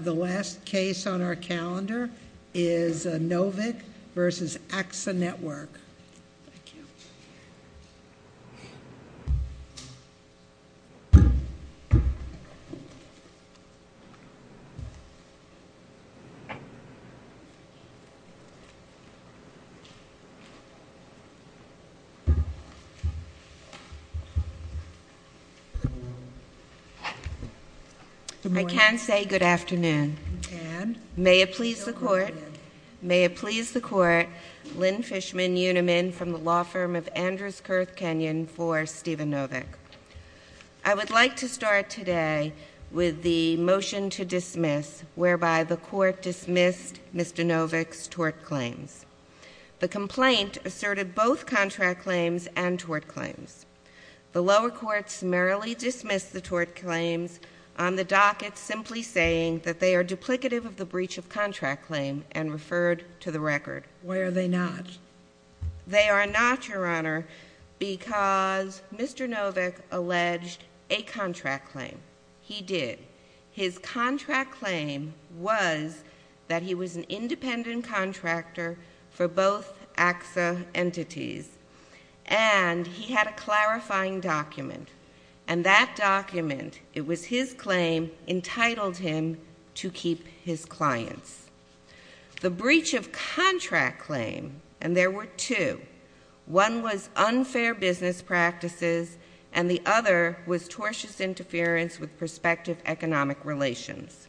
The last case on our calendar is Novick v. AXA Network Good morning. I can say good afternoon. You can. May it please the Court, Lynn Fishman Uniman from the law firm of Andrews-Kirth Kenyon for Stephen Novick. I would like to start today with the motion to dismiss whereby the Court dismissed Mr. Novick's tort claims. The complaint asserted both contract claims and tort claims. The lower courts merrily dismissed the tort claims on the docket simply saying that they are duplicative of the breach of contract claim and referred to the record. Why are they not? They are not, Your Honor, because Mr. Novick alleged a contract claim. He did. His contract claim was that he was an independent contractor for both AXA entities. And he had a clarifying document. And that document, it was his claim, entitled him to keep his clients. The breach of contract claim, and there were two, one was unfair business practices and the other was tortious interference with prospective economic relations.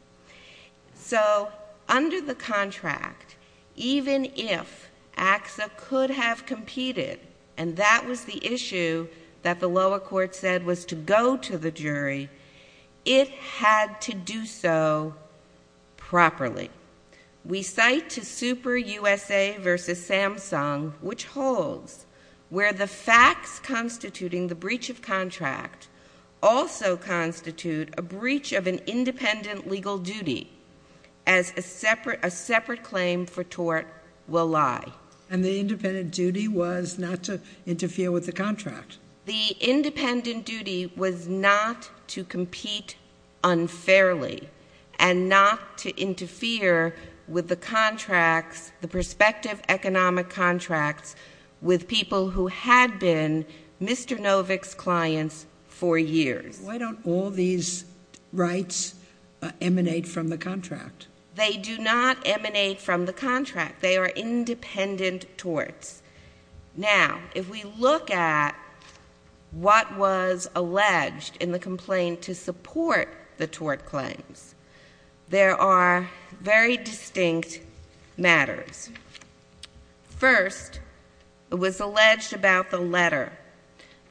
So under the contract, even if AXA could have competed and that was the issue that the lower court said was to go to the jury, it had to do so properly. We cite to SuperUSA v. Samsung which holds where the facts constituting the breach of contract also constitute a breach of an independent legal duty as a separate claim for tort will lie. And the independent duty was not to interfere with the contract. The independent duty was not to compete unfairly and not to interfere with the contracts, the prospective economic contracts with people who had been Mr. Novick's clients for years. Why don't all these rights emanate from the contract? They do not emanate from the contract. They are independent torts. Now, if we look at what was alleged in the complaint to support the tort claims, there are very distinct matters. First, it was alleged about the letter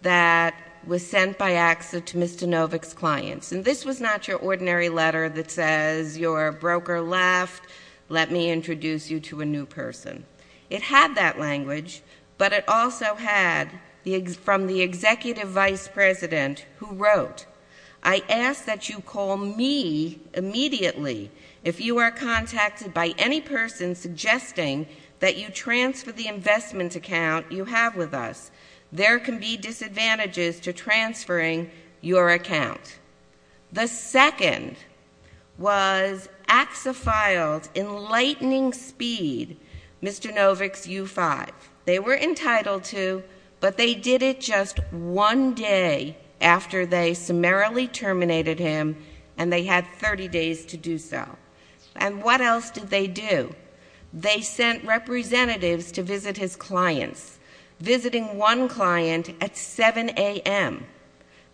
that was sent by AXA to Mr. Novick's clients. And this was not your ordinary letter that says your broker left, let me introduce you to a new person. It had that language, but it also had from the executive vice president who wrote, I ask that you call me immediately if you are contacted by any person suggesting that you transfer the investment account you have with us. There can be disadvantages to transferring your account. The second was AXA filed in lightning speed Mr. Novick's U5. They were entitled to, but they did it just one day after they summarily terminated him, and they had 30 days to do so. And what else did they do? They sent representatives to visit his clients, visiting one client at 7 AM.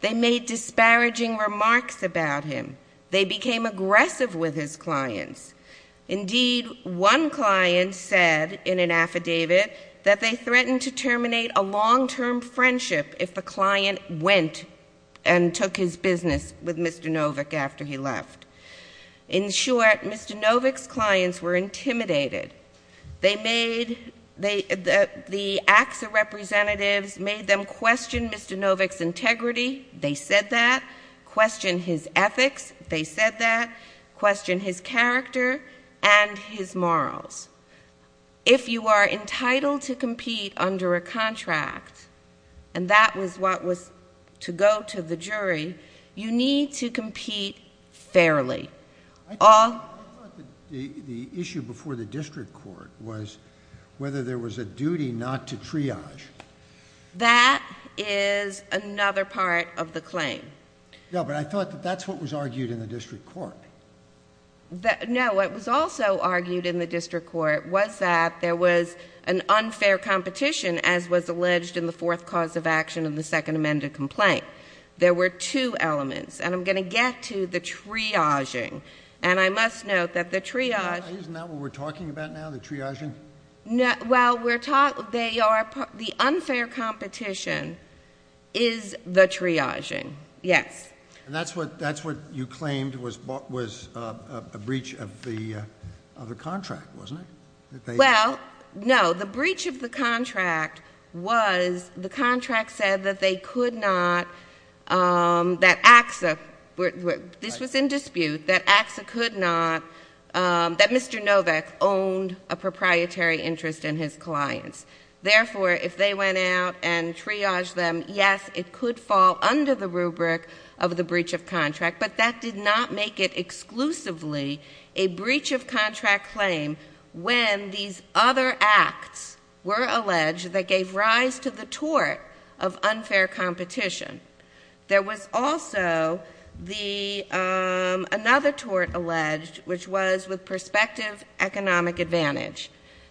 They made disparaging remarks about him. They became aggressive with his clients. Indeed, one client said in an affidavit that they threatened to terminate a long-term friendship if the client went and took his business with Mr. Novick after he left. In short, Mr. Novick's clients were intimidated. The AXA representatives made them question Mr. Novick's integrity. They said that. Question his ethics. They said that. Question his character and his morals. If you are entitled to compete under a contract, and that was what was to go to the jury, you need to compete fairly. I thought the issue before the district court was whether there was a duty not to triage. That is another part of the claim. No, but I thought that that's what was argued in the district court. No, what was also argued in the district court was that there was an unfair competition, as was alleged in the fourth cause of action in the Second Amendment complaint. There were two elements, and I'm going to get to the triaging. And I must note that the triage— Isn't that what we're talking about now, the triaging? Well, we're talking—the unfair competition is the triaging, yes. And that's what you claimed was a breach of the contract, wasn't it? Well, no. The breach of the contract was the contract said that they could not—that AXA—this was in dispute— that AXA could not—that Mr. Novak owned a proprietary interest in his clients. Therefore, if they went out and triaged them, yes, it could fall under the rubric of the breach of contract, but that did not make it exclusively a breach of contract claim when these other acts were alleged that gave rise to the tort of unfair competition. There was also another tort alleged, which was with prospective economic advantage.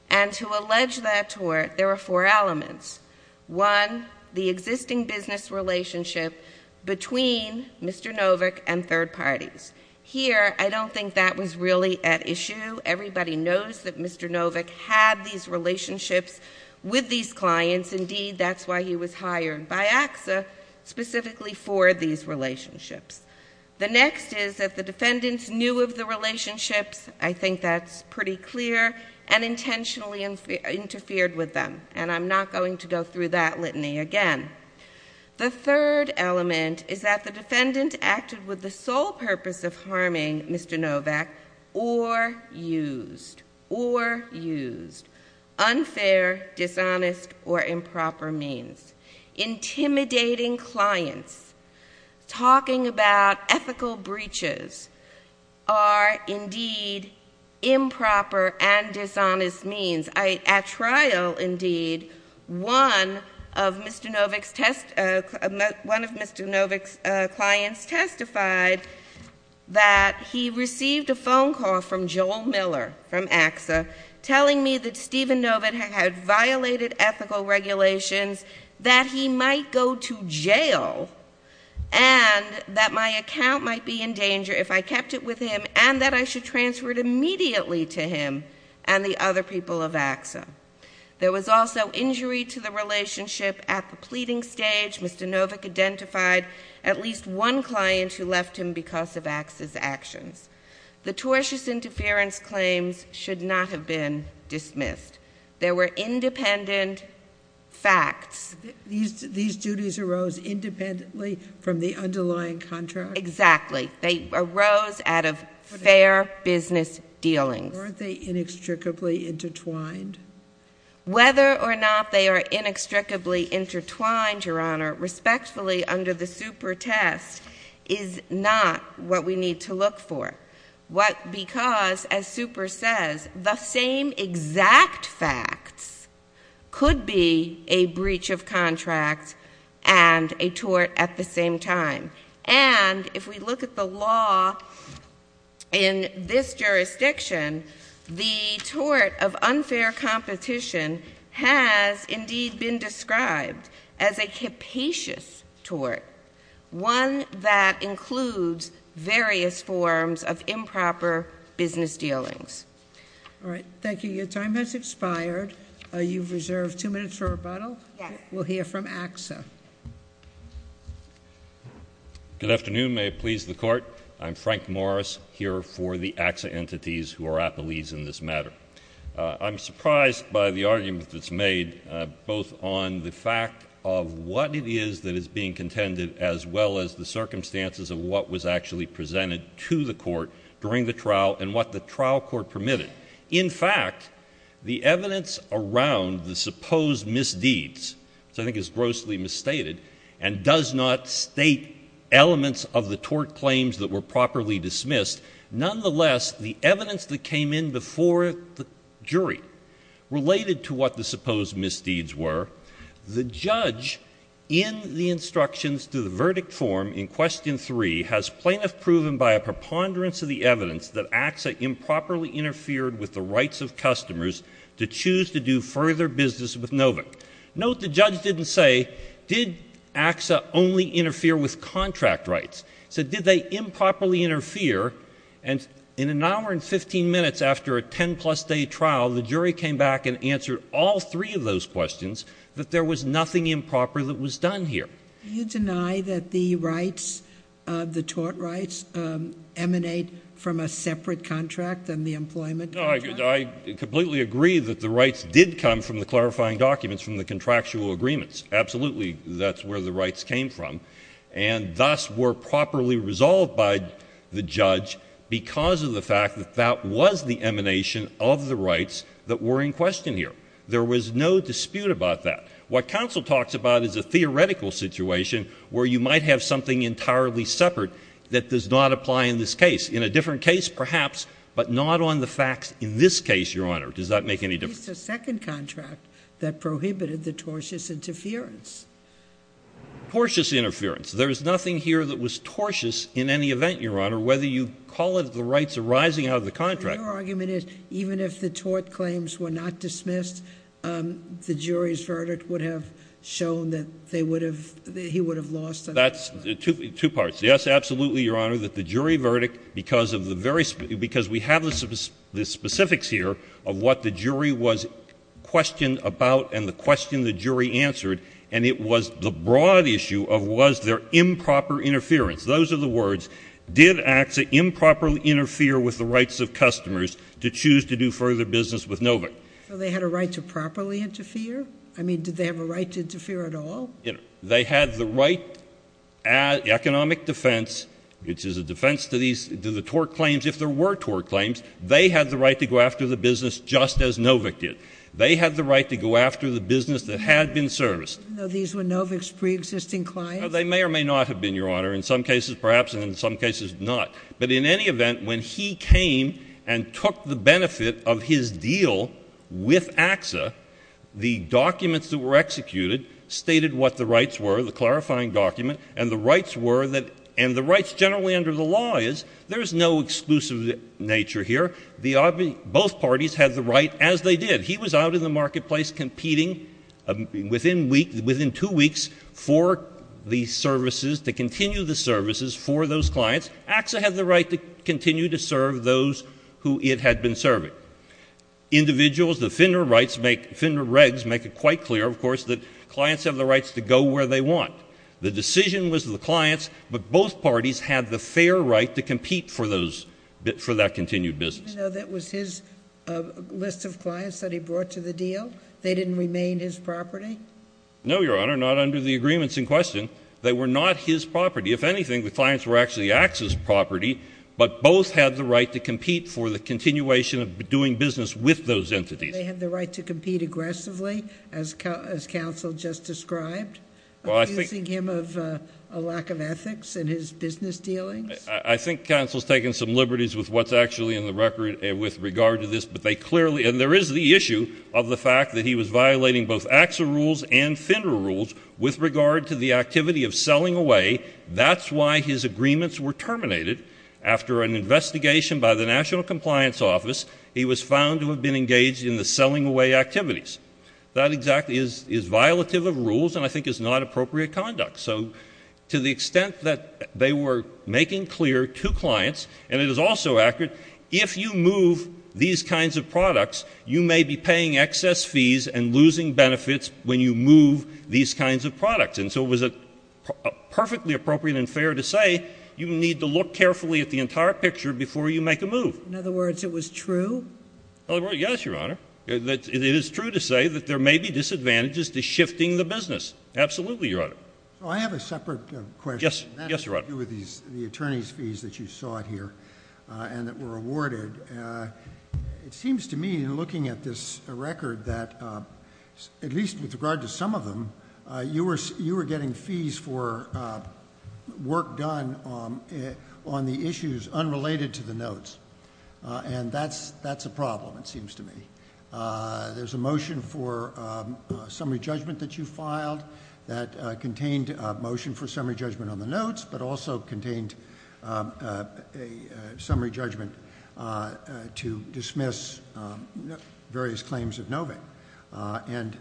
And to allege that tort, there were four elements. One, the existing business relationship between Mr. Novak and third parties. Here, I don't think that was really at issue. Everybody knows that Mr. Novak had these relationships with these clients. Indeed, that's why he was hired by AXA specifically for these relationships. The next is that the defendants knew of the relationships. I think that's pretty clear, and intentionally interfered with them. And I'm not going to go through that litany again. The third element is that the defendant acted with the sole purpose of harming Mr. Novak or used—or used— unfair, dishonest, or improper means. Intimidating clients, talking about ethical breaches are indeed improper and dishonest means. At trial, indeed, one of Mr. Novak's test—one of Mr. Novak's clients testified that he received a phone call from Joel Miller, from AXA, telling me that Stephen Novak had violated ethical regulations, that he might go to jail, and that my account might be in danger if I kept it with him, and that I should transfer it immediately to him and the other people of AXA. There was also injury to the relationship at the pleading stage. Mr. Novak identified at least one client who left him because of AXA's actions. The tortious interference claims should not have been dismissed. There were independent facts. These duties arose independently from the underlying contract? Exactly. They arose out of fair business dealings. Weren't they inextricably intertwined? Whether or not they are inextricably intertwined, Your Honor, respectfully under the Super test, is not what we need to look for. Because, as Super says, the same exact facts could be a breach of contract and a tort at the same time. And if we look at the law in this jurisdiction, the tort of unfair competition has indeed been described as a capacious tort. One that includes various forms of improper business dealings. All right, thank you. Your time has expired. You've reserved two minutes for rebuttal? Yes. We'll hear from AXA. Good afternoon. May it please the Court. I'm Frank Morris, here for the AXA entities who are at the leads in this matter. I'm surprised by the argument that's made, both on the fact of what it is that is being contended, as well as the circumstances of what was actually presented to the court during the trial and what the trial court permitted. In fact, the evidence around the supposed misdeeds, which I think is grossly misstated, and does not state elements of the tort claims that were properly dismissed, nonetheless, the evidence that came in before the jury related to what the supposed misdeeds were. The judge, in the instructions to the verdict form in Question 3, has plaintiff proven by a preponderance of the evidence that AXA improperly interfered with the rights of customers to choose to do further business with Novick. Note the judge didn't say, did AXA only interfere with contract rights? He said, did they improperly interfere? And in an hour and 15 minutes after a 10-plus day trial, the jury came back and answered all three of those questions, that there was nothing improper that was done here. Do you deny that the rights, the tort rights, emanate from a separate contract than the employment contract? No, I completely agree that the rights did come from the clarifying documents from the contractual agreements. Absolutely, that's where the rights came from, and thus were properly resolved by the judge because of the fact that that was the emanation of the rights that were in question here. There was no dispute about that. What counsel talks about is a theoretical situation where you might have something entirely separate that does not apply in this case. In a different case, perhaps, but not on the facts in this case, Your Honor. Does that make any difference? It's the second contract that prohibited the tortious interference. Tortious interference. There is nothing here that was tortious in any event, Your Honor, whether you call it the rights arising out of the contract. Your argument is even if the tort claims were not dismissed, the jury's verdict would have shown that they would have, he would have lost. That's two parts. Yes, absolutely, Your Honor, that the jury verdict, because we have the specifics here of what the jury was questioned about and the question the jury answered, and it was the broad issue of was there improper interference. Those are the words. Did AXA improperly interfere with the rights of customers to choose to do further business with Novick? So they had a right to properly interfere? I mean, did they have a right to interfere at all? They had the right economic defense, which is a defense to these, to the tort claims. If there were tort claims, they had the right to go after the business just as Novick did. They had the right to go after the business that had been serviced. These were Novick's preexisting clients? They may or may not have been, Your Honor, in some cases perhaps and in some cases not. But in any event, when he came and took the benefit of his deal with AXA, the documents that were executed stated what the rights were, the clarifying document, and the rights generally under the law is there is no exclusive nature here. Both parties had the right as they did. He was out in the marketplace competing within two weeks for the services, to continue the services for those clients. AXA had the right to continue to serve those who it had been serving. Individuals, the FINRA regs make it quite clear, of course, that clients have the rights to go where they want. The decision was the client's, but both parties had the fair right to compete for that continued business. Even though that was his list of clients that he brought to the deal? They didn't remain his property? No, Your Honor, not under the agreements in question. They were not his property. If anything, the clients were actually AXA's property, but both had the right to compete for the continuation of doing business with those entities. They had the right to compete aggressively, as counsel just described, accusing him of a lack of ethics in his business dealings? I think counsel's taken some liberties with what's actually in the record with regard to this, but they clearly, and there is the issue of the fact that he was violating both AXA rules and FINRA rules with regard to the activity of selling away. That's why his agreements were terminated. After an investigation by the National Compliance Office, he was found to have been engaged in the selling away activities. That exactly is violative of rules and I think is not appropriate conduct. So to the extent that they were making clear to clients, and it is also accurate, if you move these kinds of products, you may be paying excess fees and losing benefits when you move these kinds of products. And so it was perfectly appropriate and fair to say you need to look carefully at the entire picture before you make a move. In other words, it was true? Yes, Your Honor. It is true to say that there may be disadvantages to shifting the business. Absolutely, Your Honor. So I have a separate question. Yes, Your Honor. That has to do with the attorney's fees that you sought here and that were awarded. It seems to me in looking at this record that, at least with regard to some of them, you were getting fees for work done on the issues unrelated to the notes, and that's a problem, it seems to me. There's a motion for summary judgment that you filed that contained a motion for summary judgment on the notes, but also contained a summary judgment to dismiss various claims of NOVIC. And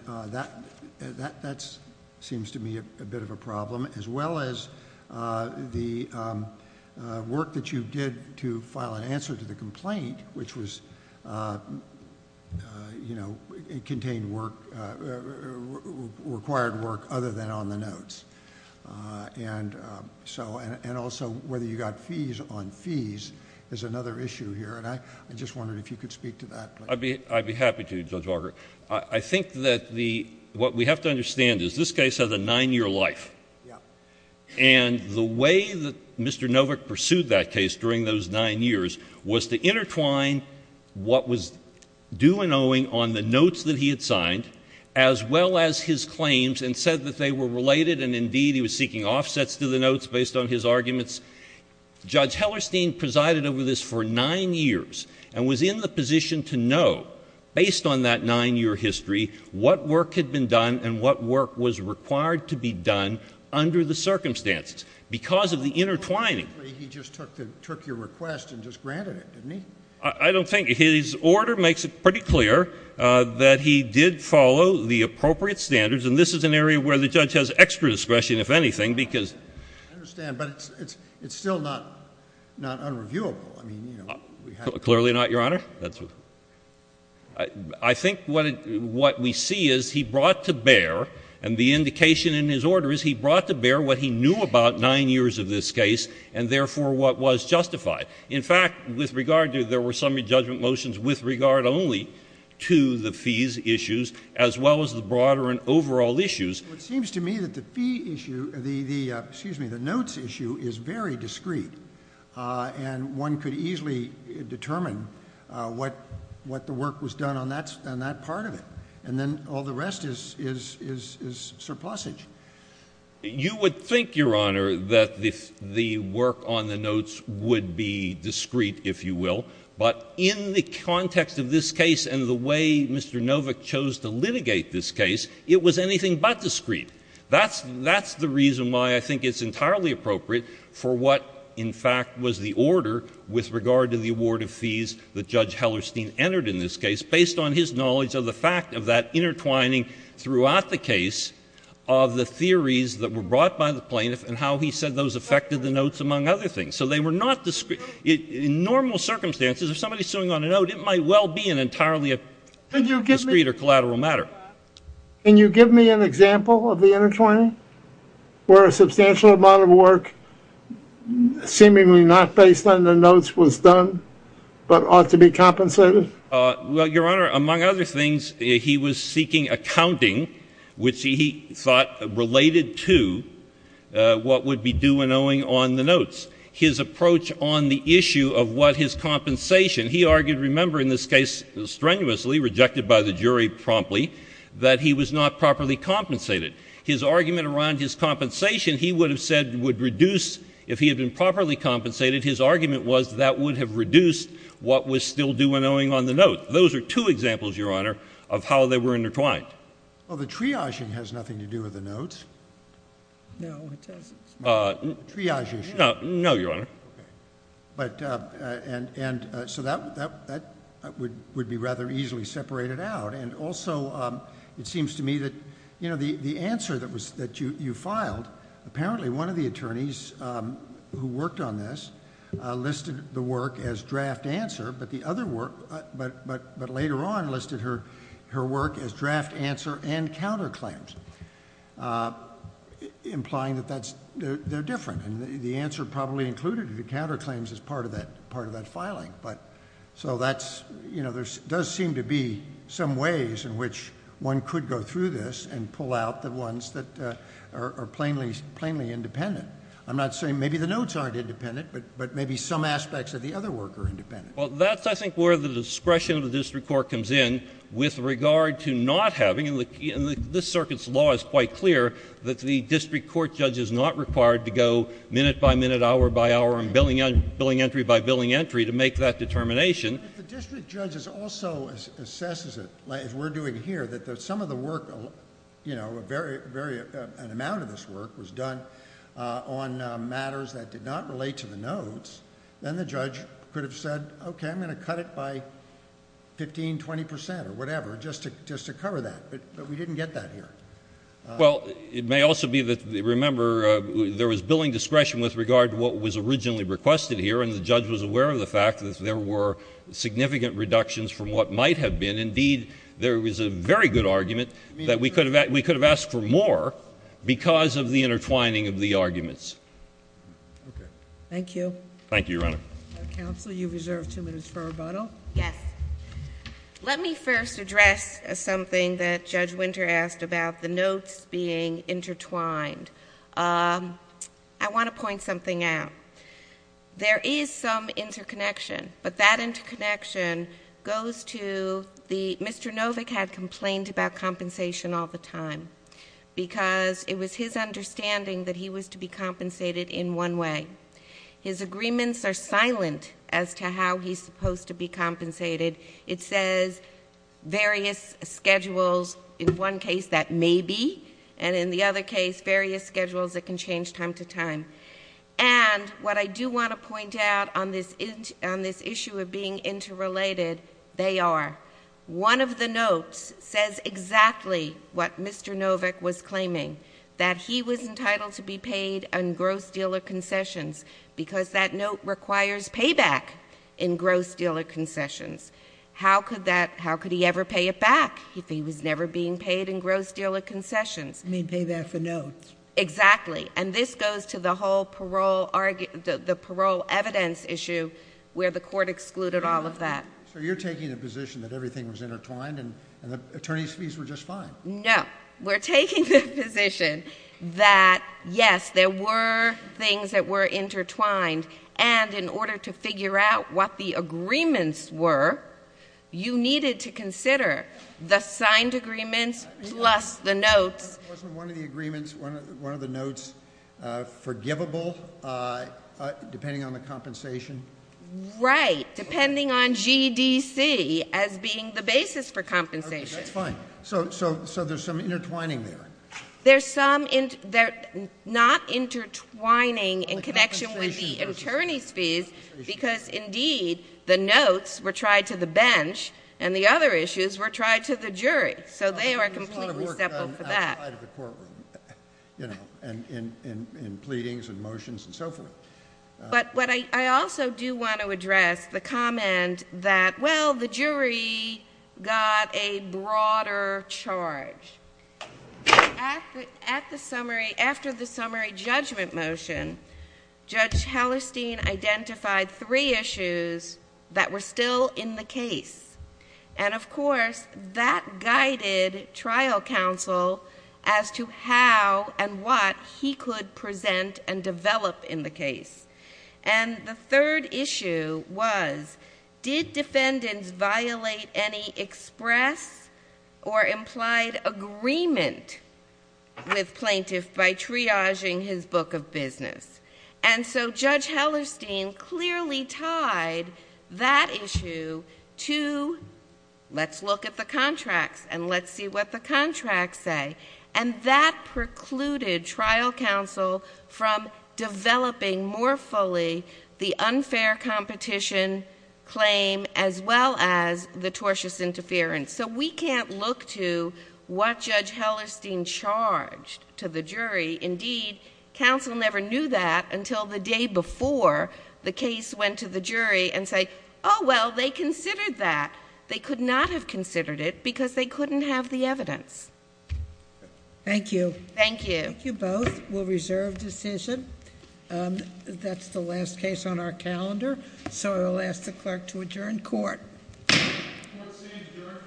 that seems to me a bit of a problem, as well as the work that you did to file an answer to the complaint, which contained required work other than on the notes. And also whether you got fees on fees is another issue here, and I just wondered if you could speak to that. I'd be happy to, Judge Barker. I think that what we have to understand is this case has a nine-year life, and the way that Mr. NOVIC pursued that case during those nine years was to intertwine what was due and owing on the notes that he had signed, as well as his claims, and said that they were related, and indeed he was seeking offsets to the notes based on his arguments. Judge Hellerstein presided over this for nine years and was in the position to know, based on that nine-year history, what work had been done and what work was required to be done under the circumstances, because of the intertwining. He just took your request and just granted it, didn't he? I don't think so. His order makes it pretty clear that he did follow the appropriate standards, and this is an area where the judge has extra discretion, if anything, because — I understand, but it's still not unreviewable. Clearly not, Your Honor. I think what we see is he brought to bear, and the indication in his order is he brought to bear what he knew about nine years of this case and, therefore, what was justified. In fact, with regard to — there were summary judgment motions with regard only to the fees issues, as well as the broader and overall issues. Well, it seems to me that the fee issue — excuse me, the notes issue is very discreet, and one could easily determine what the work was done on that part of it, and then all the rest is surplusage. You would think, Your Honor, that the work on the notes would be discreet, if you will, but in the context of this case and the way Mr. Novick chose to litigate this case, it was anything but discreet. That's — that's the reason why I think it's entirely appropriate for what, in fact, was the order with regard to the award of fees that Judge Hellerstein entered in this case, based on his knowledge of the fact of that intertwining throughout the case of the theories that were brought by the plaintiff and how he said those affected the notes, among other things. So they were not — in normal circumstances, if somebody's suing on a note, it might well be an entirely discreet or collateral matter. Can you give me an example of the intertwining where a substantial amount of work, seemingly not based on the notes, was done but ought to be compensated? Well, Your Honor, among other things, he was seeking accounting, which he thought related to what would be due and owing on the notes. His approach on the issue of what his compensation — he argued, remember, in this case strenuously, rejected by the jury promptly, that he was not properly compensated. His argument around his compensation, he would have said would reduce — if he had been properly compensated, his argument was that would have reduced what was still due and owing on the note. Those are two examples, Your Honor, of how they were intertwined. Well, the triaging has nothing to do with the notes. No, it doesn't. Triage issue. No, Your Honor. Okay. But — and so that would be rather easily separated out. And also, it seems to me that, you know, the answer that you filed, apparently one of the attorneys who worked on this listed the work as draft answer, but the other work — but later on listed her work as draft answer and counterclaims, implying that that's — they're different. And the answer probably included the counterclaims as part of that filing. But — so that's — you know, there does seem to be some ways in which one could go through this and pull out the ones that are plainly independent. I'm not saying — maybe the notes aren't independent, but maybe some aspects of the other work are independent. Well, that's, I think, where the discretion of the district court comes in with regard to not having — and this circuit's law is quite clear that the district court judge is not required to go minute by minute, hour by hour, and billing entry by billing entry to make that determination. But if the district judge also assesses it, as we're doing here, that some of the work — you know, a very — an amount of this work was done on matters that did not relate to the notes, then the judge could have said, OK, I'm going to cut it by 15, 20 percent or whatever just to cover that. But we didn't get that here. Well, it may also be that — remember, there was billing discretion with regard to what was originally requested here, and the judge was aware of the fact that there were significant reductions from what might have been. Indeed, there was a very good argument that we could have asked for more because of the intertwining of the arguments. OK. Thank you. Thank you, Your Honor. Counsel, you've reserved two minutes for rebuttal. Yes. Let me first address something that Judge Winter asked about, the notes being intertwined. I want to point something out. There is some interconnection, but that interconnection goes to — Mr. Novick had complained about compensation all the time because it was his understanding that he was to be compensated in one way. His agreements are silent as to how he's supposed to be compensated. It says various schedules. In one case, that may be, and in the other case, various schedules that can change time to time. And what I do want to point out on this issue of being interrelated, they are. One of the notes says exactly what Mr. Novick was claiming, that he was entitled to be paid in gross deal or concessions because that note requires payback in gross deal or concessions. How could that — how could he ever pay it back if he was never being paid in gross deal or concessions? You mean payback for notes. Exactly. And this goes to the whole parole — the parole evidence issue where the court excluded all of that. So you're taking the position that everything was intertwined and the attorney's fees were just fine. No. We're taking the position that, yes, there were things that were intertwined, and in order to figure out what the agreements were, you needed to consider the signed agreements plus the notes. Wasn't one of the agreements — one of the notes forgivable depending on the compensation? Right. Depending on GDC as being the basis for compensation. That's fine. So there's some intertwining there. There's some — they're not intertwining in connection with the attorney's fees because, indeed, the notes were tried to the bench and the other issues were tried to the jury. So they are completely separate for that. There's a lot of work done outside of the courtroom, you know, in pleadings and motions and so forth. But what I also do want to address, the comment that, well, the jury got a broader charge. After the summary judgment motion, Judge Hallerstein identified three issues that were still in the case. And, of course, that guided trial counsel as to how and what he could present and develop in the case. And the third issue was, did defendants violate any express or implied agreement with plaintiff by triaging his book of business? And so Judge Hallerstein clearly tied that issue to, let's look at the contracts and let's see what the contracts say. And that precluded trial counsel from developing more fully the unfair competition claim as well as the tortious interference. So we can't look to what Judge Hallerstein charged to the jury. Indeed, counsel never knew that until the day before the case went to the jury and say, oh, well, they considered that. They could not have considered it because they couldn't have the evidence. Thank you. Thank you. Thank you both. We'll reserve decision. That's the last case on our calendar. So I will ask the clerk to adjourn court. Court is adjourned.